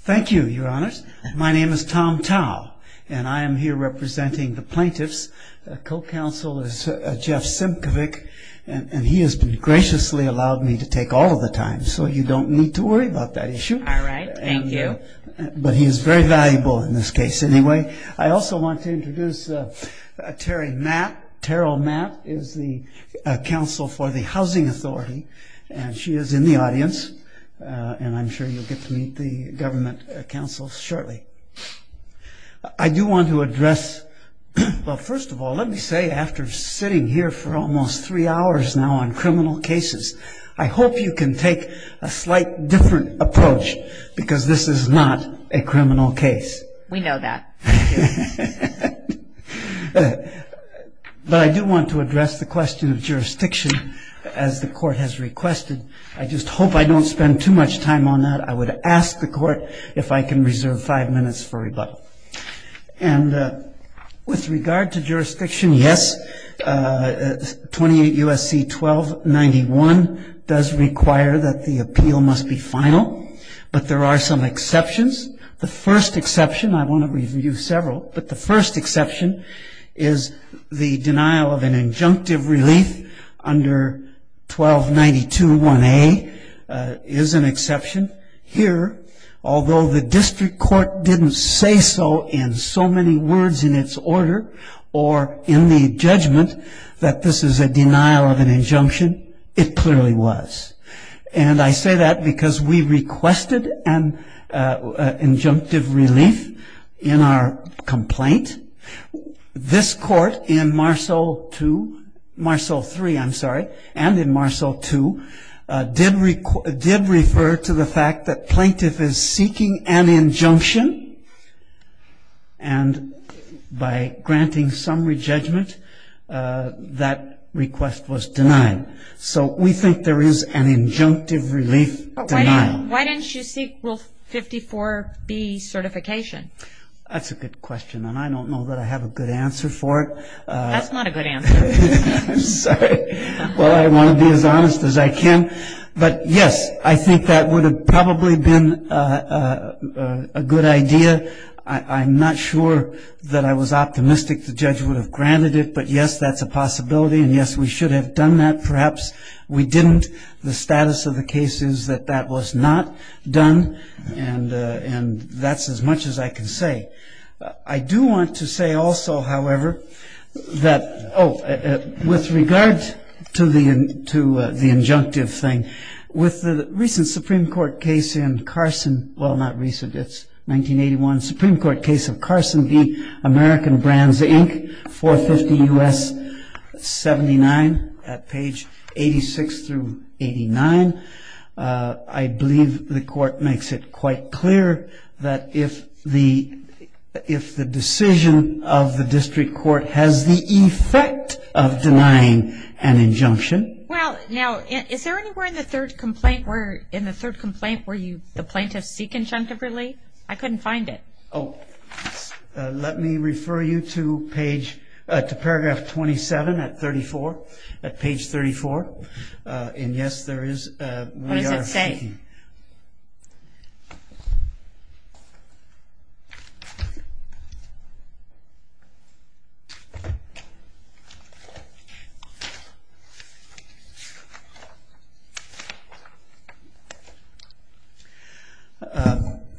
Thank you, Your Honor. My name is Tom Tao, and I am here representing the plaintiffs. The co-counsel is Jeff Simcovic, and he has graciously allowed me to take all of the time, so you don't need to worry about that issue. All right, thank you. But he is very valuable in this case anyway. I also want to introduce Terry Mapp. Terrell Mapp is the counsel for the Housing Authority, and she is in the audience. And I'm sure you'll get to meet the government counsel shortly. I do want to address, well, first of all, let me say after sitting here for almost three hours now on criminal cases, I hope you can take a slight different approach, because this is not a criminal case. We know that. But I do want to address the question of jurisdiction, as the court has requested. I just hope I don't spend too much time on that. I would ask the court if I can reserve five minutes for rebuttal. And with regard to jurisdiction, yes, 28 U.S.C. 1291 does require that the appeal must be final, but there are some exceptions. The first exception, I want to review several, but the first exception is the denial of an injunctive relief under 1292-1A is an exception. Here, although the district court didn't say so in so many words in its order, or in the judgment that this is a denial of an injunction, it clearly was. And I say that because we requested an injunctive relief in our complaint. This court in Marceau 2, Marceau 3, I'm sorry, and in Marceau 2, did refer to the fact that plaintiff is seeking an injunction, and by granting summary judgment, that request was denied. So we think there is an injunctive relief denial. Why didn't you seek Rule 54-B certification? That's a good question, and I don't know that I have a good answer for it. That's not a good answer. I'm sorry. Well, I want to be as honest as I can. But, yes, I think that would have probably been a good idea. I'm not sure that I was optimistic the judge would have granted it, but, yes, that's a possibility, and, yes, we should have done that. Perhaps we didn't. The status of the case is that that was not done, and that's as much as I can say. I do want to say also, however, that, oh, with regard to the injunctive thing, with the recent Supreme Court case in Carson, well, not recent, it's 1981, Supreme Court case of Carson v. American Brands, Inc., 450 U.S. 79 at page 86 through 89, I believe the court makes it quite clear that if the decision of the district court has the effect of denying an injunction. Well, now, is there anywhere in the third complaint where the plaintiffs seek injunctive relief? I couldn't find it. Oh, let me refer you to paragraph 27 at page 34, and, yes, there is. What does it say? Let me see.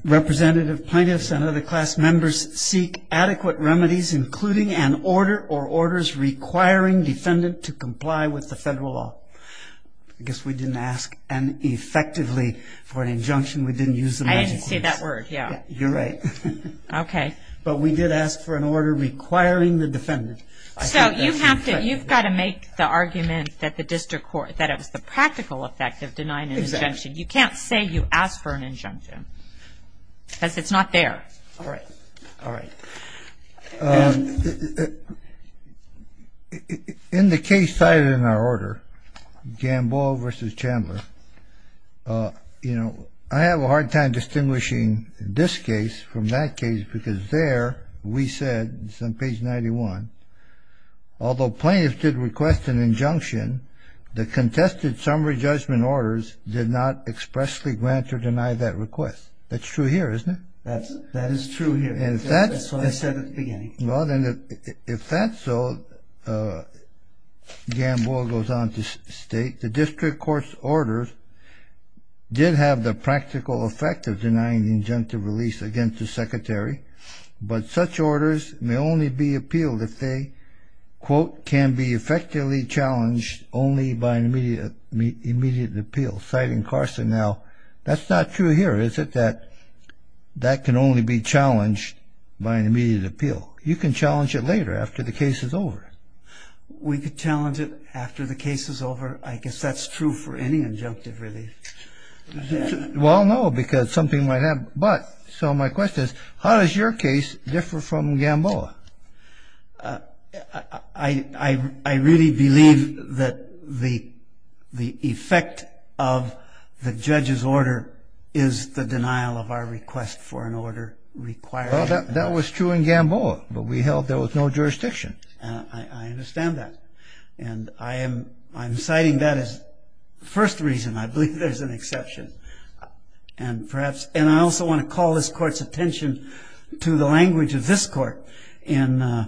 Representative plaintiffs and other class members seek adequate remedies, including an order or orders requiring defendant to comply with the federal law. I guess we didn't ask, effectively, for an injunction. We didn't use the magic words. I didn't say that word, yeah. You're right. Okay. But we did ask for an order requiring the defendant. So you've got to make the argument that it was the practical effect of denying an injunction. Exactly. You can't say you asked for an injunction because it's not there. All right. All right. In the case cited in our order, Gamboa v. Chandler, you know, I have a hard time distinguishing this case from that case because there we said, it's on page 91, although plaintiffs did request an injunction, the contested summary judgment orders did not expressly grant or deny that request. That's true here, isn't it? That is true here. That's what I said at the beginning. If that's so, Gamboa goes on to state, the district court's orders did have the practical effect of denying the injunctive release against the secretary, but such orders may only be appealed if they, quote, can be effectively challenged only by an immediate appeal. Citing Carson now, that's not true here, is it? That can only be challenged by an immediate appeal. You can challenge it later after the case is over. We could challenge it after the case is over. I guess that's true for any injunctive release. Well, no, because something might happen. But, so my question is, how does your case differ from Gamboa? I really believe that the effect of the judge's order is the denial of our request for an order requiring that. Well, that was true in Gamboa, but we held there was no jurisdiction. I understand that. And I am citing that as the first reason. I believe there's an exception. And I also want to call this court's attention to the language of this court in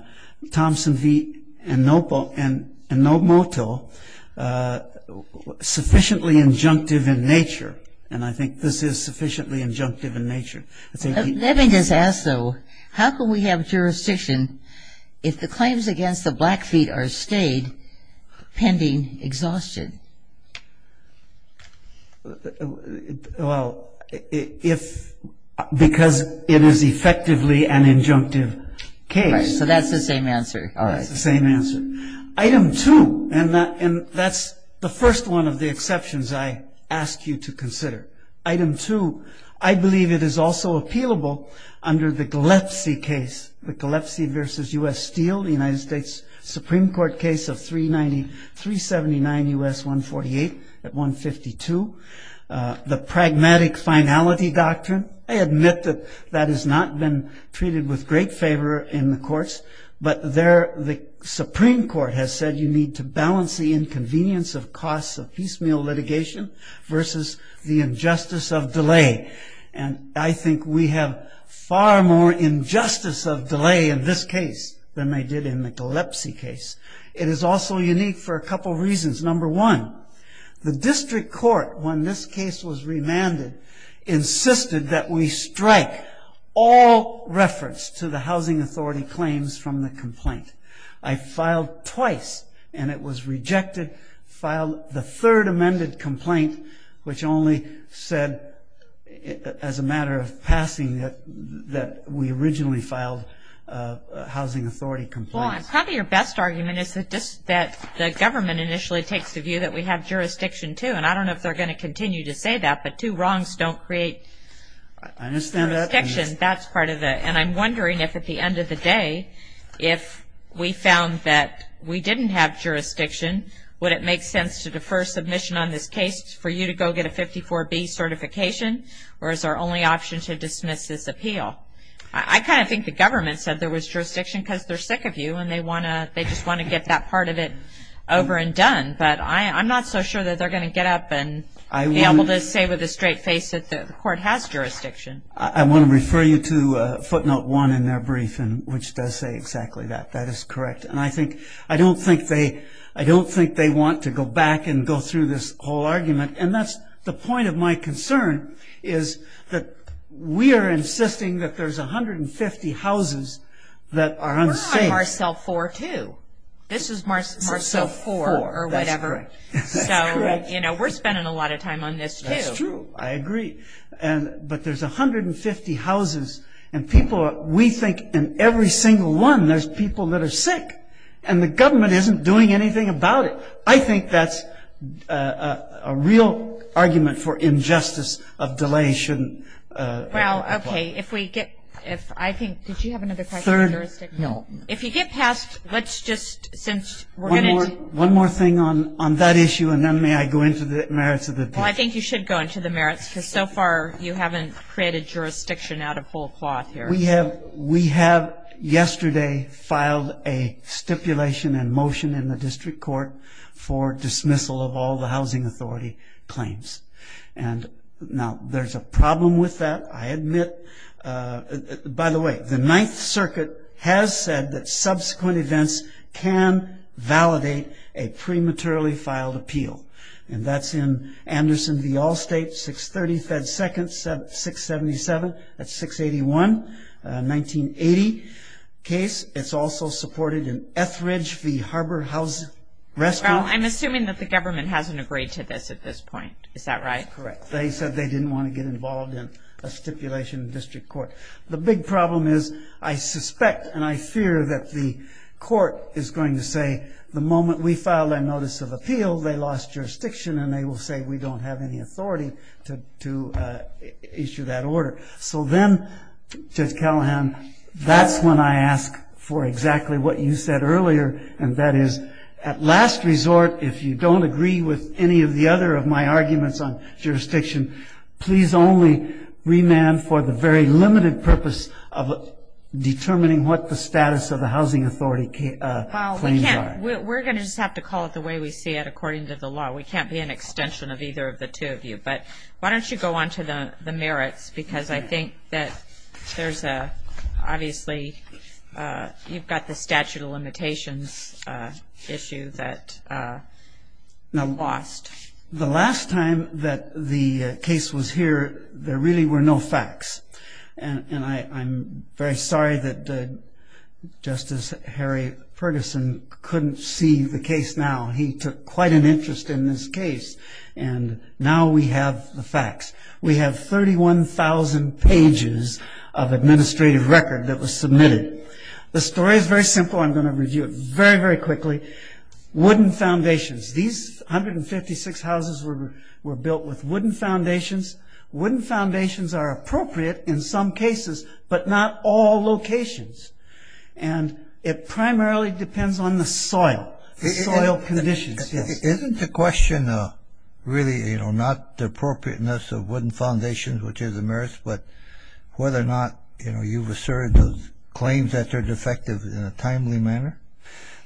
Thompson v. Enomoto, sufficiently injunctive in nature, and I think this is sufficiently injunctive in nature. Let me just ask, though, how can we have jurisdiction if the claims against the Blackfeet are stayed pending exhaustion? Well, because it is effectively an injunctive case. Right, so that's the same answer. That's the same answer. Item 2, and that's the first one of the exceptions I ask you to consider. Item 2, I believe it is also appealable under the Gillespie case, the Gillespie v. U.S. Steel, the United States Supreme Court case of 379 U.S. 148 at 152. The pragmatic finality doctrine, I admit that that has not been treated with great favor in the courts, but there the Supreme Court has said you need to balance the inconvenience of costs of piecemeal litigation versus the injustice of delay. And I think we have far more injustice of delay in this case than they did in the Gillespie case. It is also unique for a couple reasons. Number one, the district court, when this case was remanded, insisted that we strike all reference to the housing authority claims from the complaint. I filed twice, and it was rejected, filed the third amended complaint, which only said as a matter of passing that we originally filed a housing authority complaint. Probably your best argument is that the government initially takes the view that we have jurisdiction, too. And I don't know if they're going to continue to say that, but two wrongs don't create jurisdiction. I understand that. That's part of it. And I'm wondering if at the end of the day, if we found that we didn't have jurisdiction, would it make sense to defer submission on this case for you to go get a 54B certification, or is our only option to dismiss this appeal? I kind of think the government said there was jurisdiction because they're sick of you and they just want to get that part of it over and done. But I'm not so sure that they're going to get up and be able to say with a straight face that the court has jurisdiction. I want to refer you to footnote one in their brief, which does say exactly that. That is correct. And I don't think they want to go back and go through this whole argument. And that's the point of my concern, is that we are insisting that there's 150 houses that are unsafe. We're on Marcel 4, too. This is Marcel 4, or whatever. That's correct. So, you know, we're spending a lot of time on this, too. That's true. I agree. But there's 150 houses, and we think in every single one there's people that are sick, and the government isn't doing anything about it. So I think that's a real argument for injustice of delay. Well, okay, if we get – I think – did you have another question? Third – no. If you get past – let's just – since we're going to – One more thing on that issue, and then may I go into the merits of the appeal? Well, I think you should go into the merits because so far you haven't created jurisdiction out of whole cloth here. We have yesterday filed a stipulation and motion in the district court for dismissal of all the housing authority claims. Now, there's a problem with that, I admit. By the way, the Ninth Circuit has said that subsequent events can validate a prematurely filed appeal, and that's in Anderson v. Allstate, 630 Fed Second, 677. That's 681, 1980 case. It's also supported in Etheridge v. Harbor House Rescue. Well, I'm assuming that the government hasn't agreed to this at this point. Is that right? Correct. They said they didn't want to get involved in a stipulation in the district court. The big problem is I suspect and I fear that the court is going to say, the moment we file a notice of appeal, they lost jurisdiction, and they will say we don't have any authority to issue that order. So then, Judge Callahan, that's when I ask for exactly what you said earlier, and that is at last resort, if you don't agree with any of the other of my arguments on jurisdiction, please only remand for the very limited purpose of determining what the status of the housing authority claims are. Well, we're going to just have to call it the way we see it according to the law. We can't be an extension of either of the two of you, but why don't you go on to the merits because I think that there's a, obviously, you've got the statute of limitations issue that lost. The last time that the case was here, there really were no facts, and I'm very sorry that Justice Harry Ferguson couldn't see the case now. He took quite an interest in this case, and now we have the facts. We have 31,000 pages of administrative record that was submitted. The story is very simple. I'm going to review it very, very quickly. Wooden foundations. These 156 houses were built with wooden foundations. Wooden foundations are appropriate in some cases, but not all locations, and it primarily depends on the soil, the soil conditions. Isn't the question really not the appropriateness of wooden foundations, which is a merit, but whether or not you've asserted those claims that they're defective in a timely manner?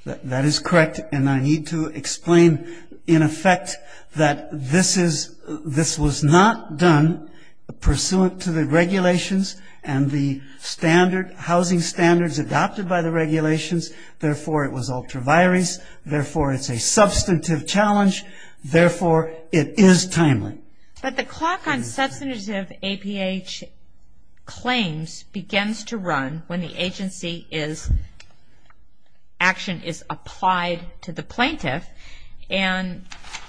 That is correct, and I need to explain, in effect, that this was not done pursuant to the regulations and the housing standards adopted by the regulations. Therefore, it was ultra-virus. Therefore, it's a substantive challenge. Therefore, it is timely. But the clock on substantive APH claims begins to run when the agency is, action is applied to the plaintiff, and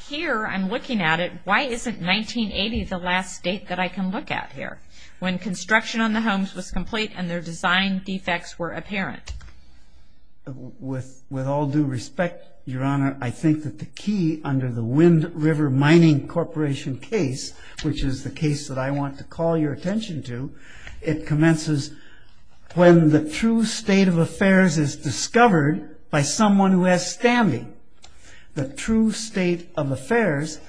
here I'm looking at it. Why isn't 1980 the last date that I can look at here, when construction on the homes was complete and their design defects were apparent? With all due respect, Your Honor, I think that the key under the Wind River Mining Corporation case, which is the case that I want to call your attention to, it commences when the true state of affairs is discovered by someone who has standing. The true state of affairs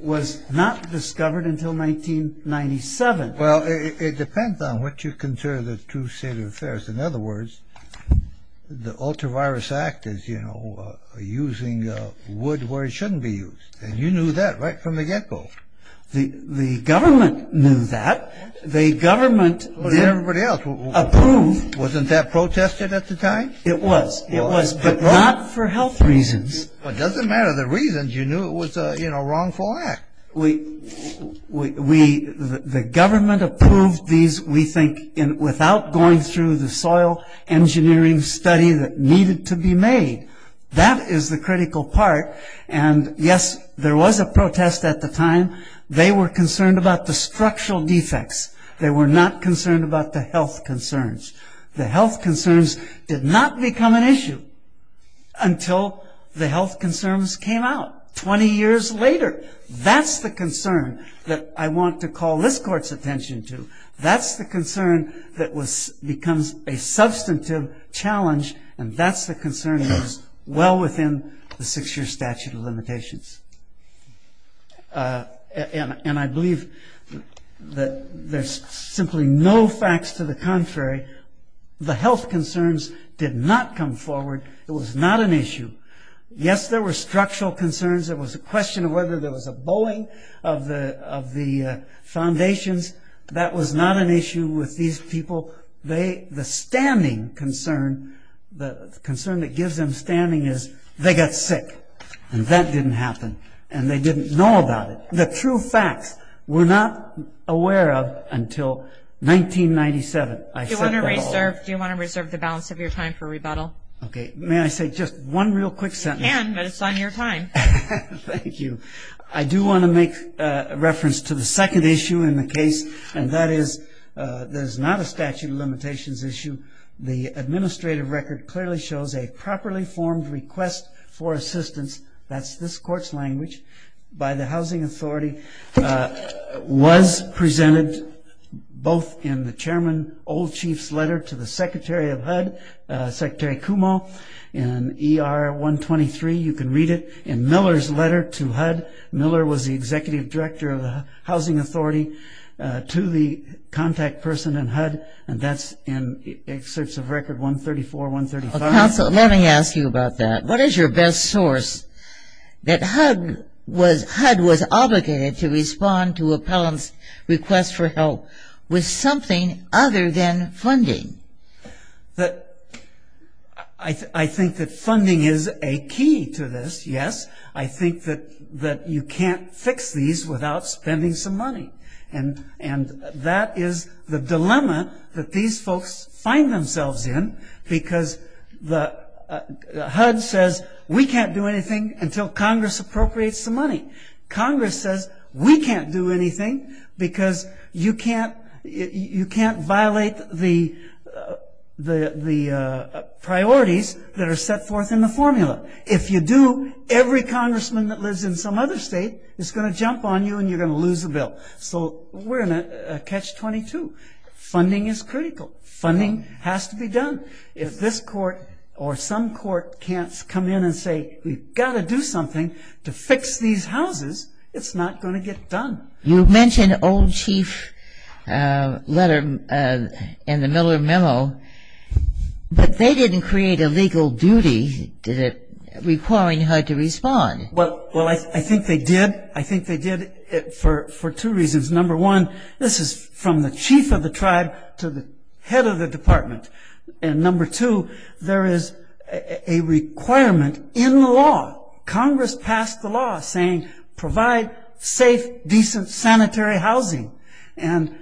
was not discovered until 1997. Well, it depends on what you consider the true state of affairs. In other words, the Ultra-Virus Act is, you know, using wood where it shouldn't be used, and you knew that right from the get-go. The government knew that. But the government did approve. Wasn't that protested at the time? It was. It was, but not for health reasons. Well, it doesn't matter the reasons. You knew it was a, you know, wrongful act. We, the government approved these, we think, without going through the soil engineering study that needed to be made. That is the critical part. And, yes, there was a protest at the time. They were concerned about the structural defects. They were not concerned about the health concerns. The health concerns did not become an issue until the health concerns came out 20 years later. That's the concern that I want to call this Court's attention to. That's the concern that becomes a substantive challenge, and that's the concern that is well within the six-year statute of limitations. And I believe that there's simply no facts to the contrary. The health concerns did not come forward. It was not an issue. Yes, there were structural concerns. It was a question of whether there was a bowing of the foundations. That was not an issue with these people. The standing concern, the concern that gives them standing is they got sick, and that didn't happen, and they didn't know about it. The true facts we're not aware of until 1997. Do you want to reserve the balance of your time for rebuttal? May I say just one real quick sentence? You can, but it's on your time. Thank you. I do want to make reference to the second issue in the case, and that is that it's not a statute of limitations issue. The administrative record clearly shows a properly formed request for assistance. That's this Court's language. By the Housing Authority, was presented both in the Chairman Old Chief's letter to the Secretary of HUD, Secretary Cuomo, in ER 123. You can read it. In Miller's letter to HUD, Miller was the Executive Director of the Housing Authority to the contact person in HUD, and that's in Excerpts of Record 134, 135. Counsel, let me ask you about that. What is your best source that HUD was obligated to respond to appellant's request for help with something other than funding? I think that funding is a key to this, yes. I think that you can't fix these without spending some money, and that is the dilemma that these folks find themselves in, because HUD says, we can't do anything until Congress appropriates the money. Congress says, we can't do anything because you can't violate the priorities that are set forth in the formula. If you do, every congressman that lives in some other state is going to jump on you and you're going to lose the bill. So we're in a catch-22. Funding is critical. Funding has to be done. If this Court or some Court can't come in and say, we've got to do something to fix these houses, it's not going to get done. You mentioned Old Chief's letter in the Miller memo, but they didn't create a legal duty, did it, requiring HUD to respond? Well, I think they did. I think they did for two reasons. Number one, this is from the chief of the tribe to the head of the department. And number two, there is a requirement in the law. Congress passed the law saying, provide safe, decent, sanitary housing. And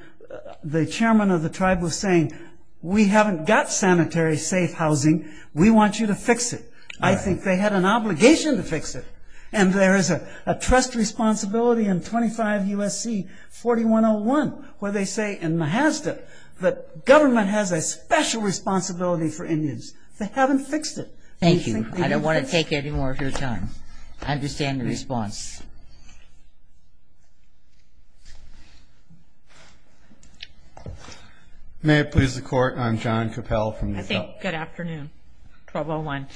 the chairman of the tribe was saying, we haven't got sanitary, safe housing. We want you to fix it. I think they had an obligation to fix it. And there is a trust responsibility in 25 U.S.C. 4101 where they say in Mahazda that government has a special responsibility for Indians. They haven't fixed it. Thank you. I don't want to take any more of your time. I understand the response. May it please the Court, I'm John Cappell. Good afternoon, 1201.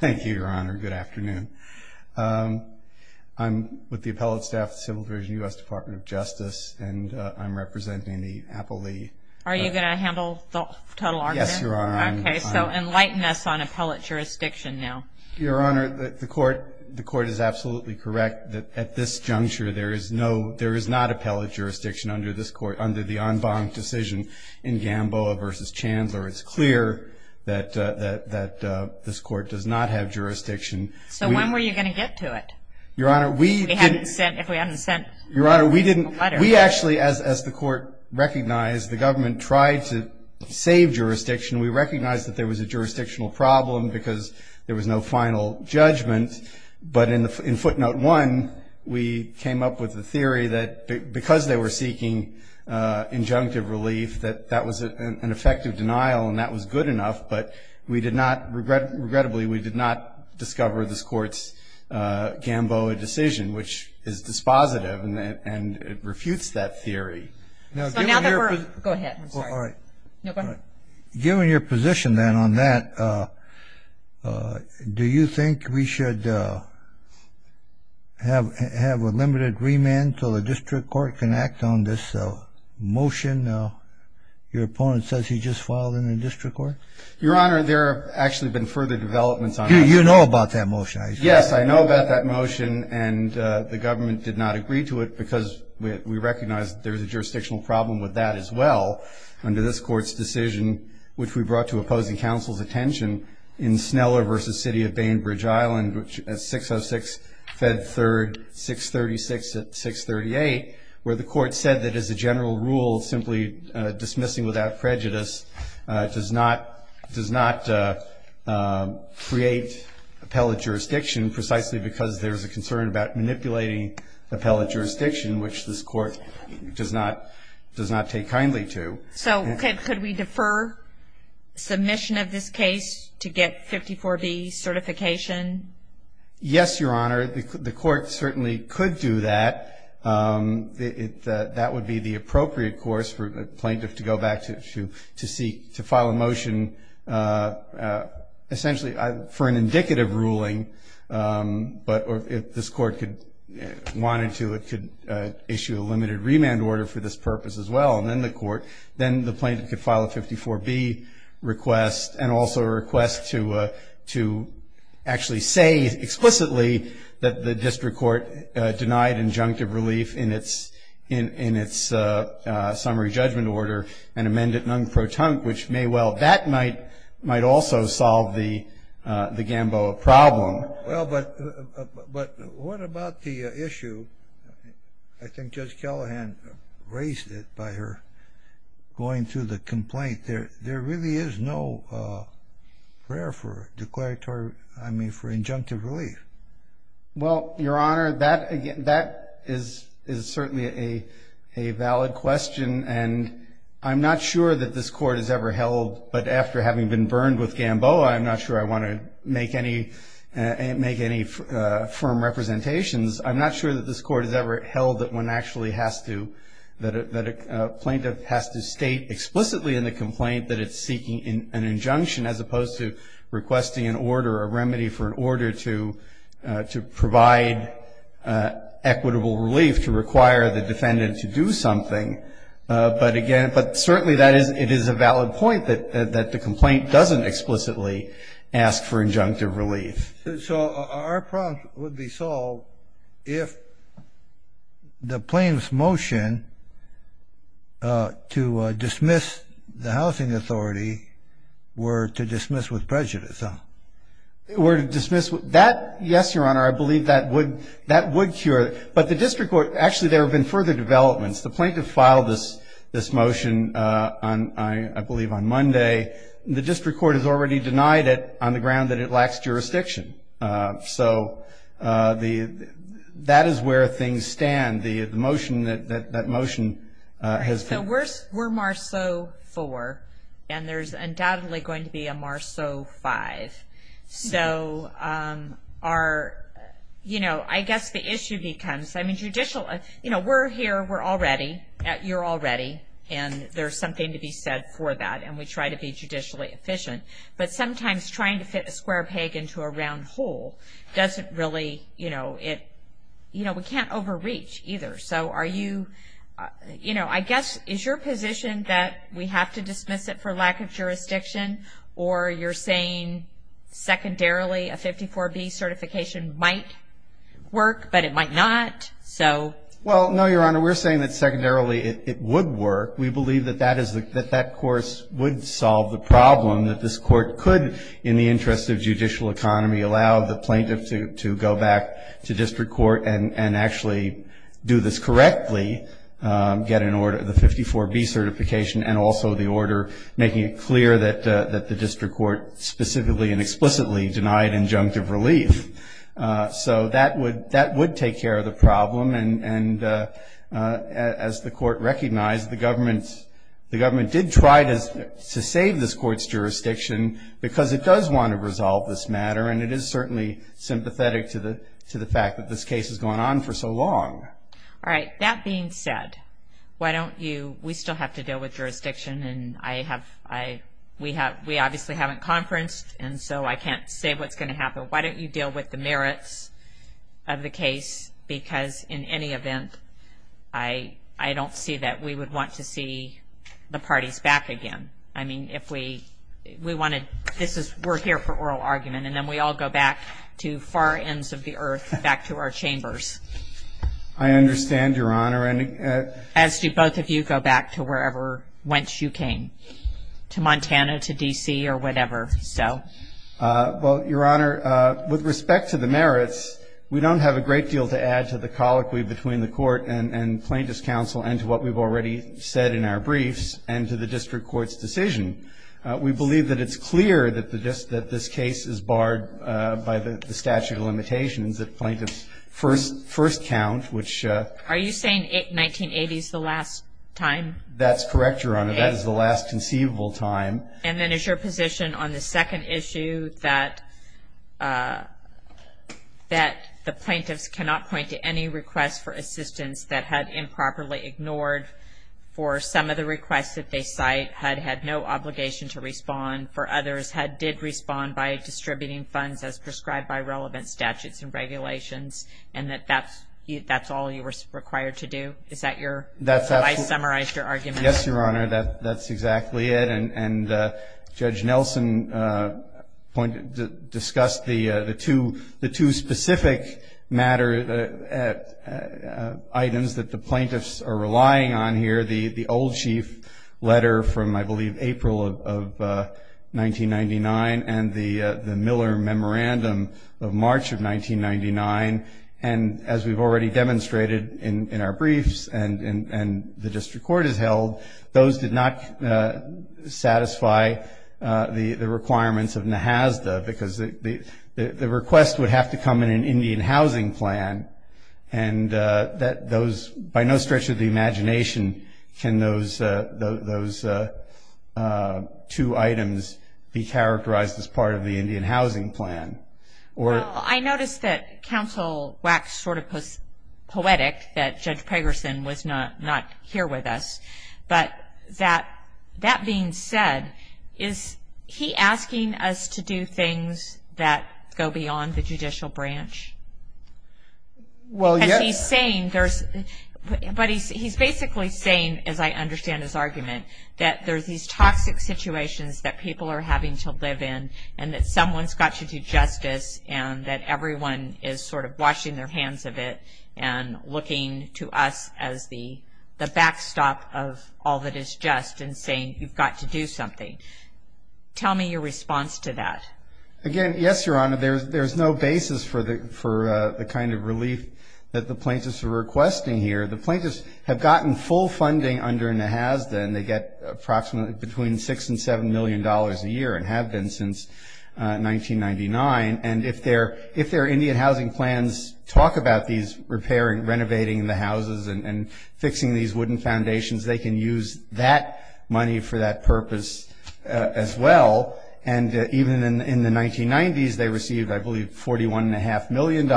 Thank you, Your Honor. Good afternoon. I'm with the appellate staff of the Civil Division, U.S. Department of Justice, and I'm representing the appellee. Are you going to handle the total argument? Yes, Your Honor. Okay, so enlighten us on appellate jurisdiction now. Your Honor, the Court is absolutely correct that at this juncture there is not appellate jurisdiction under the en banc decision in Gamboa v. Chandler. It's clear that this Court does not have jurisdiction. So when were you going to get to it? Your Honor, we didn't. If we hadn't sent a letter. We actually, as the Court recognized, the government tried to save jurisdiction. We recognized that there was a jurisdictional problem because there was no final judgment, but in footnote one we came up with the theory that because they were seeking injunctive relief that that was an effective denial and that was good enough, but regrettably we did not discover this Court's Gamboa decision, which is dispositive and it refutes that theory. Go ahead, I'm sorry. Given your position then on that, do you think we should have a limited remand until the District Court can act on this motion? Your opponent says he just filed in the District Court. Your Honor, there have actually been further developments on that. You know about that motion, I assume. Yes, I know about that motion, and the government did not agree to it because we recognize there's a jurisdictional problem with that as well under this Court's decision, which we brought to opposing counsel's attention in Sneller v. City of Bainbridge Island, 606 Fed 3rd, 636 at 638, where the Court said that as a general rule, simply dismissing without prejudice does not create appellate jurisdiction precisely because there's a concern about manipulating appellate jurisdiction, which this Court does not take kindly to. So could we defer submission of this case to get 54B certification? Yes, Your Honor. The Court certainly could do that. That would be the appropriate course for the plaintiff to go back to file a motion essentially for an indicative ruling, but if this Court wanted to, it could issue a limited remand order for this purpose as well. And then the plaintiff could file a 54B request and also a request to actually say explicitly that the District Court denied injunctive relief in its summary judgment order and amend it non-protunct, which may well, that might also solve the Gamboa problem. Well, but what about the issue? I think Judge Callahan raised it by her going through the complaint. There really is no prayer for declaratory, I mean for injunctive relief. Well, Your Honor, that is certainly a valid question and I'm not sure that this Court has ever held, but after having been burned with Gamboa, I'm not sure I want to make any firm representations. I'm not sure that this Court has ever held that one actually has to, that a plaintiff has to state explicitly in the complaint that it's seeking an injunction as opposed to requesting an order, a remedy for an order to provide equitable relief, to require the defendant to do something. But again, but certainly that is, it is a valid point that the complaint doesn't explicitly ask for injunctive relief. So our problem would be solved if the plaintiff's motion to dismiss the housing authority were to dismiss with prejudice, huh? Were to dismiss with, that, yes, Your Honor, I believe that would, that would cure it. But the district court, actually there have been further developments. The plaintiff filed this motion, I believe, on Monday. The district court has already denied it on the ground that it lacks jurisdiction. So that is where things stand. The motion, that motion has been. So we're Marceau 4 and there's undoubtedly going to be a Marceau 5. So our, you know, I guess the issue becomes, I mean, judicial, you know, we're here, we're all ready, you're all ready, and there's something to be said for that. And we try to be judicially efficient. But sometimes trying to fit a square peg into a round hole doesn't really, you know, it, you know, we can't overreach either. So are you, you know, I guess is your position that we have to dismiss it for lack of jurisdiction or you're saying secondarily a 54B certification might work but it might not? So. Well, no, Your Honor, we're saying that secondarily it would work. We believe that that is, that that course would solve the problem, that this court could in the interest of judicial economy allow the plaintiff to go back to district court and actually do this correctly, get an order, the 54B certification, and also the order making it clear that the district court specifically and explicitly denied injunctive relief. So that would take care of the problem. And as the court recognized, the government did try to save this court's jurisdiction because it does want to resolve this matter, and it is certainly sympathetic to the fact that this case has gone on for so long. All right. That being said, why don't you, we still have to deal with jurisdiction, and I have, we obviously haven't conferenced, and so I can't say what's going to happen. Why don't you deal with the merits of the case? Because in any event, I don't see that we would want to see the parties back again. I mean, if we wanted, this is, we're here for oral argument, and then we all go back to far ends of the earth, back to our chambers. I understand, Your Honor. As do both of you go back to wherever, whence you came, to Montana, to D.C., or whatever. Well, Your Honor, with respect to the merits, we don't have a great deal to add to the colloquy between the court and plaintiff's counsel and to what we've already said in our briefs and to the district court's decision. We believe that it's clear that this case is barred by the statute of limitations that plaintiffs first count, which... Are you saying 1980 is the last time? That's correct, Your Honor. That is the last conceivable time. And then is your position on the second issue, that the plaintiffs cannot point to any requests for assistance that had improperly ignored for some of the requests that they cite, had had no obligation to respond, and for others did respond by distributing funds as prescribed by relevant statutes and regulations, and that that's all you were required to do? Is that your... That's absolutely... Have I summarized your argument? Yes, Your Honor, that's exactly it. And Judge Nelson discussed the two specific matter items that the plaintiffs are relying on here, the old chief letter from, I believe, April of 1999 and the Miller Memorandum of March of 1999. And as we've already demonstrated in our briefs and the district court has held, those did not satisfy the requirements of NAHASDA, because the request would have to come in an Indian housing plan, and that those, by no stretch of the imagination, can those two items be characterized as part of the Indian housing plan? Well, I noticed that Counsel Wax sort of was poetic that Judge Pegersen was not here with us, but that being said, is he asking us to do things that go beyond the judicial branch? Well, yes. Because he's saying there's... But he's basically saying, as I understand his argument, that there's these toxic situations that people are having to live in and that someone's got to do justice and that everyone is sort of washing their hands of it and looking to us as the backstop of all that is just and saying you've got to do something. Tell me your response to that. Again, yes, Your Honor. There's no basis for the kind of relief that the plaintiffs are requesting here. The plaintiffs have gotten full funding under NAHASDA, and they get approximately between $6 million and $7 million a year and have been since 1999. And if their Indian housing plans talk about these repairing, renovating the houses and fixing these wooden foundations, they can use that money for that purpose as well. And even in the 1990s they received, I believe, $41.5 million,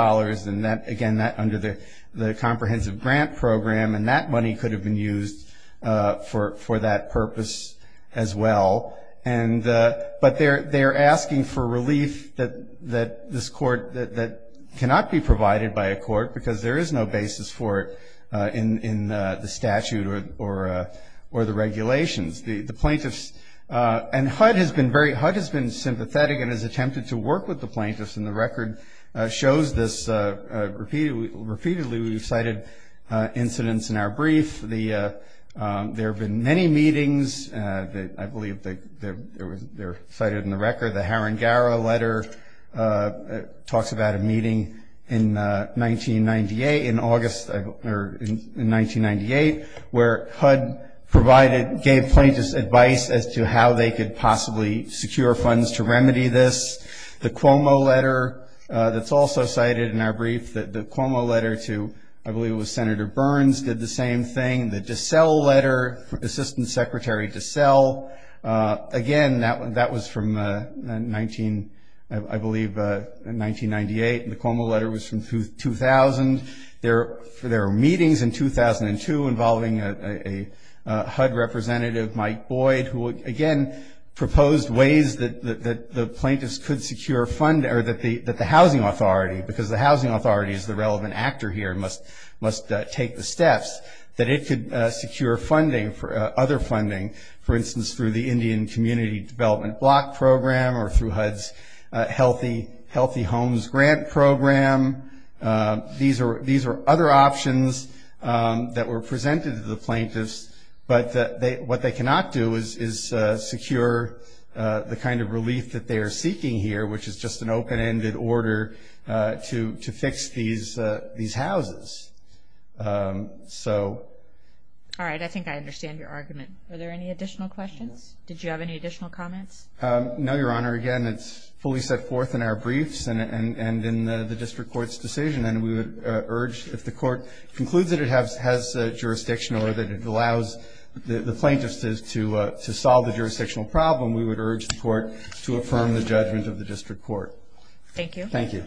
and again, that under the comprehensive grant program, and that money could have been used for that purpose as well. But they're asking for relief that cannot be provided by a court because there is no basis for it in the statute or the regulations. And HUD has been sympathetic and has attempted to work with the plaintiffs, and the record shows this repeatedly. We've cited incidents in our brief. There have been many meetings. I believe they're cited in the record. The Haringara letter talks about a meeting in 1998, where HUD provided, gave plaintiffs advice as to how they could possibly secure funds to remedy this. The Cuomo letter that's also cited in our brief, the Cuomo letter to, I believe, Senator Burns did the same thing. The DeSalle letter, Assistant Secretary DeSalle, again, that was from, I believe, 1998. The Cuomo letter was from 2000. There were meetings in 2002 involving a HUD representative, Mike Boyd, who again proposed ways that the housing authority, because the housing authority is the relevant actor here and must take the steps, that it could secure funding for other funding, for instance, through the Indian Community Development Block Program or through HUD's Healthy Homes Grant Program. These are other options that were presented to the plaintiffs, but what they cannot do is secure the kind of relief that they are seeking here, which is just an open-ended order to fix these houses. All right. I think I understand your argument. Are there any additional questions? Did you have any additional comments? No, Your Honor. Again, it's fully set forth in our briefs and in the district court's decision, and we would urge if the court concludes that it has jurisdiction or that it allows the plaintiffs to solve the jurisdictional problem, we would urge the court to affirm the judgment of the district court. Thank you. Thank you.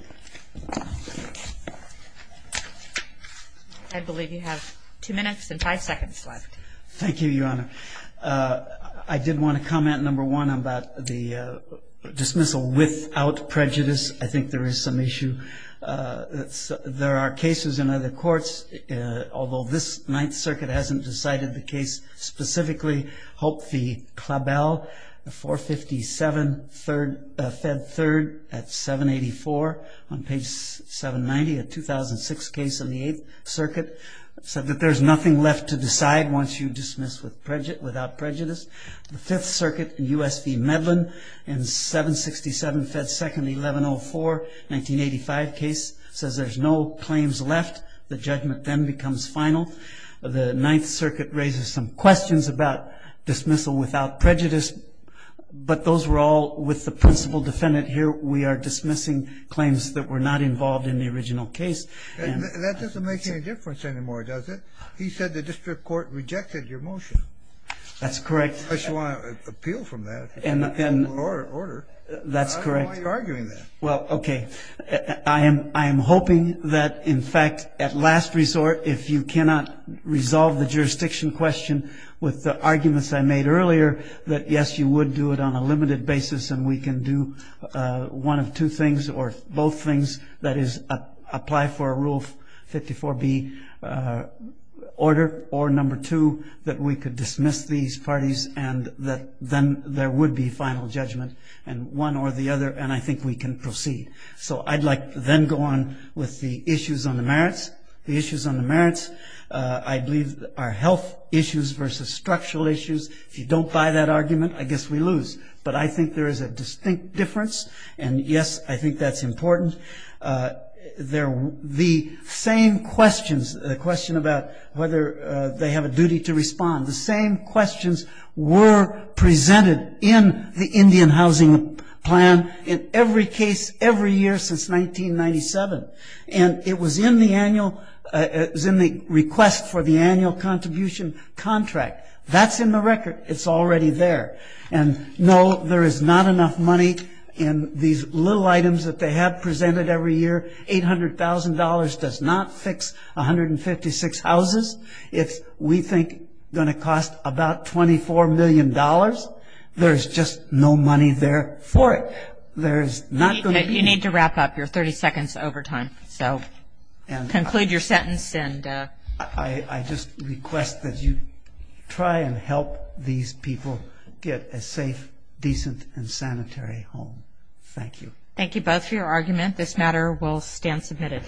I believe you have two minutes and five seconds left. Thank you, Your Honor. I did want to comment, number one, about the dismissal without prejudice. I think there is some issue. There are cases in other courts, although this Ninth Circuit hasn't decided the case specifically, I hope the CLABEL, 457 Fed 3rd at 784 on page 790, a 2006 case of the Eighth Circuit, said that there's nothing left to decide once you dismiss without prejudice. The Fifth Circuit, U.S. v. Medlin, in 767 Fed 2nd, 1104, 1985 case, says there's no claims left. The judgment then becomes final. The Ninth Circuit raises some questions about dismissal without prejudice, but those were all with the principal defendant. Here we are dismissing claims that were not involved in the original case. That doesn't make any difference anymore, does it? He said the district court rejected your motion. That's correct. I just want to appeal from that. Order. That's correct. I don't know why you're arguing that. Well, okay. I am hoping that, in fact, at last resort, if you cannot resolve the jurisdiction question with the arguments I made earlier, that, yes, you would do it on a limited basis and we can do one of two things or both things, that is apply for a Rule 54B order or number two, that we could dismiss these parties and that then there would be final judgment, one or the other, and I think we can proceed. So I'd like to then go on with the issues on the merits. The issues on the merits, I believe, are health issues versus structural issues. If you don't buy that argument, I guess we lose. But I think there is a distinct difference, and, yes, I think that's important. The same questions, the question about whether they have a duty to respond, the same questions were presented in the Indian housing plan in every case, every year since 1997, and it was in the request for the annual contribution contract. That's in the record. It's already there. And, no, there is not enough money in these little items that they have presented every year. $800,000 does not fix 156 houses. It's, we think, going to cost about $24 million. There's just no money there for it. You need to wrap up your 30 seconds overtime. So conclude your sentence. I just request that you try and help these people get a safe, decent, and sanitary home. Thank you. Thank you both for your argument. This matter will stand submitted.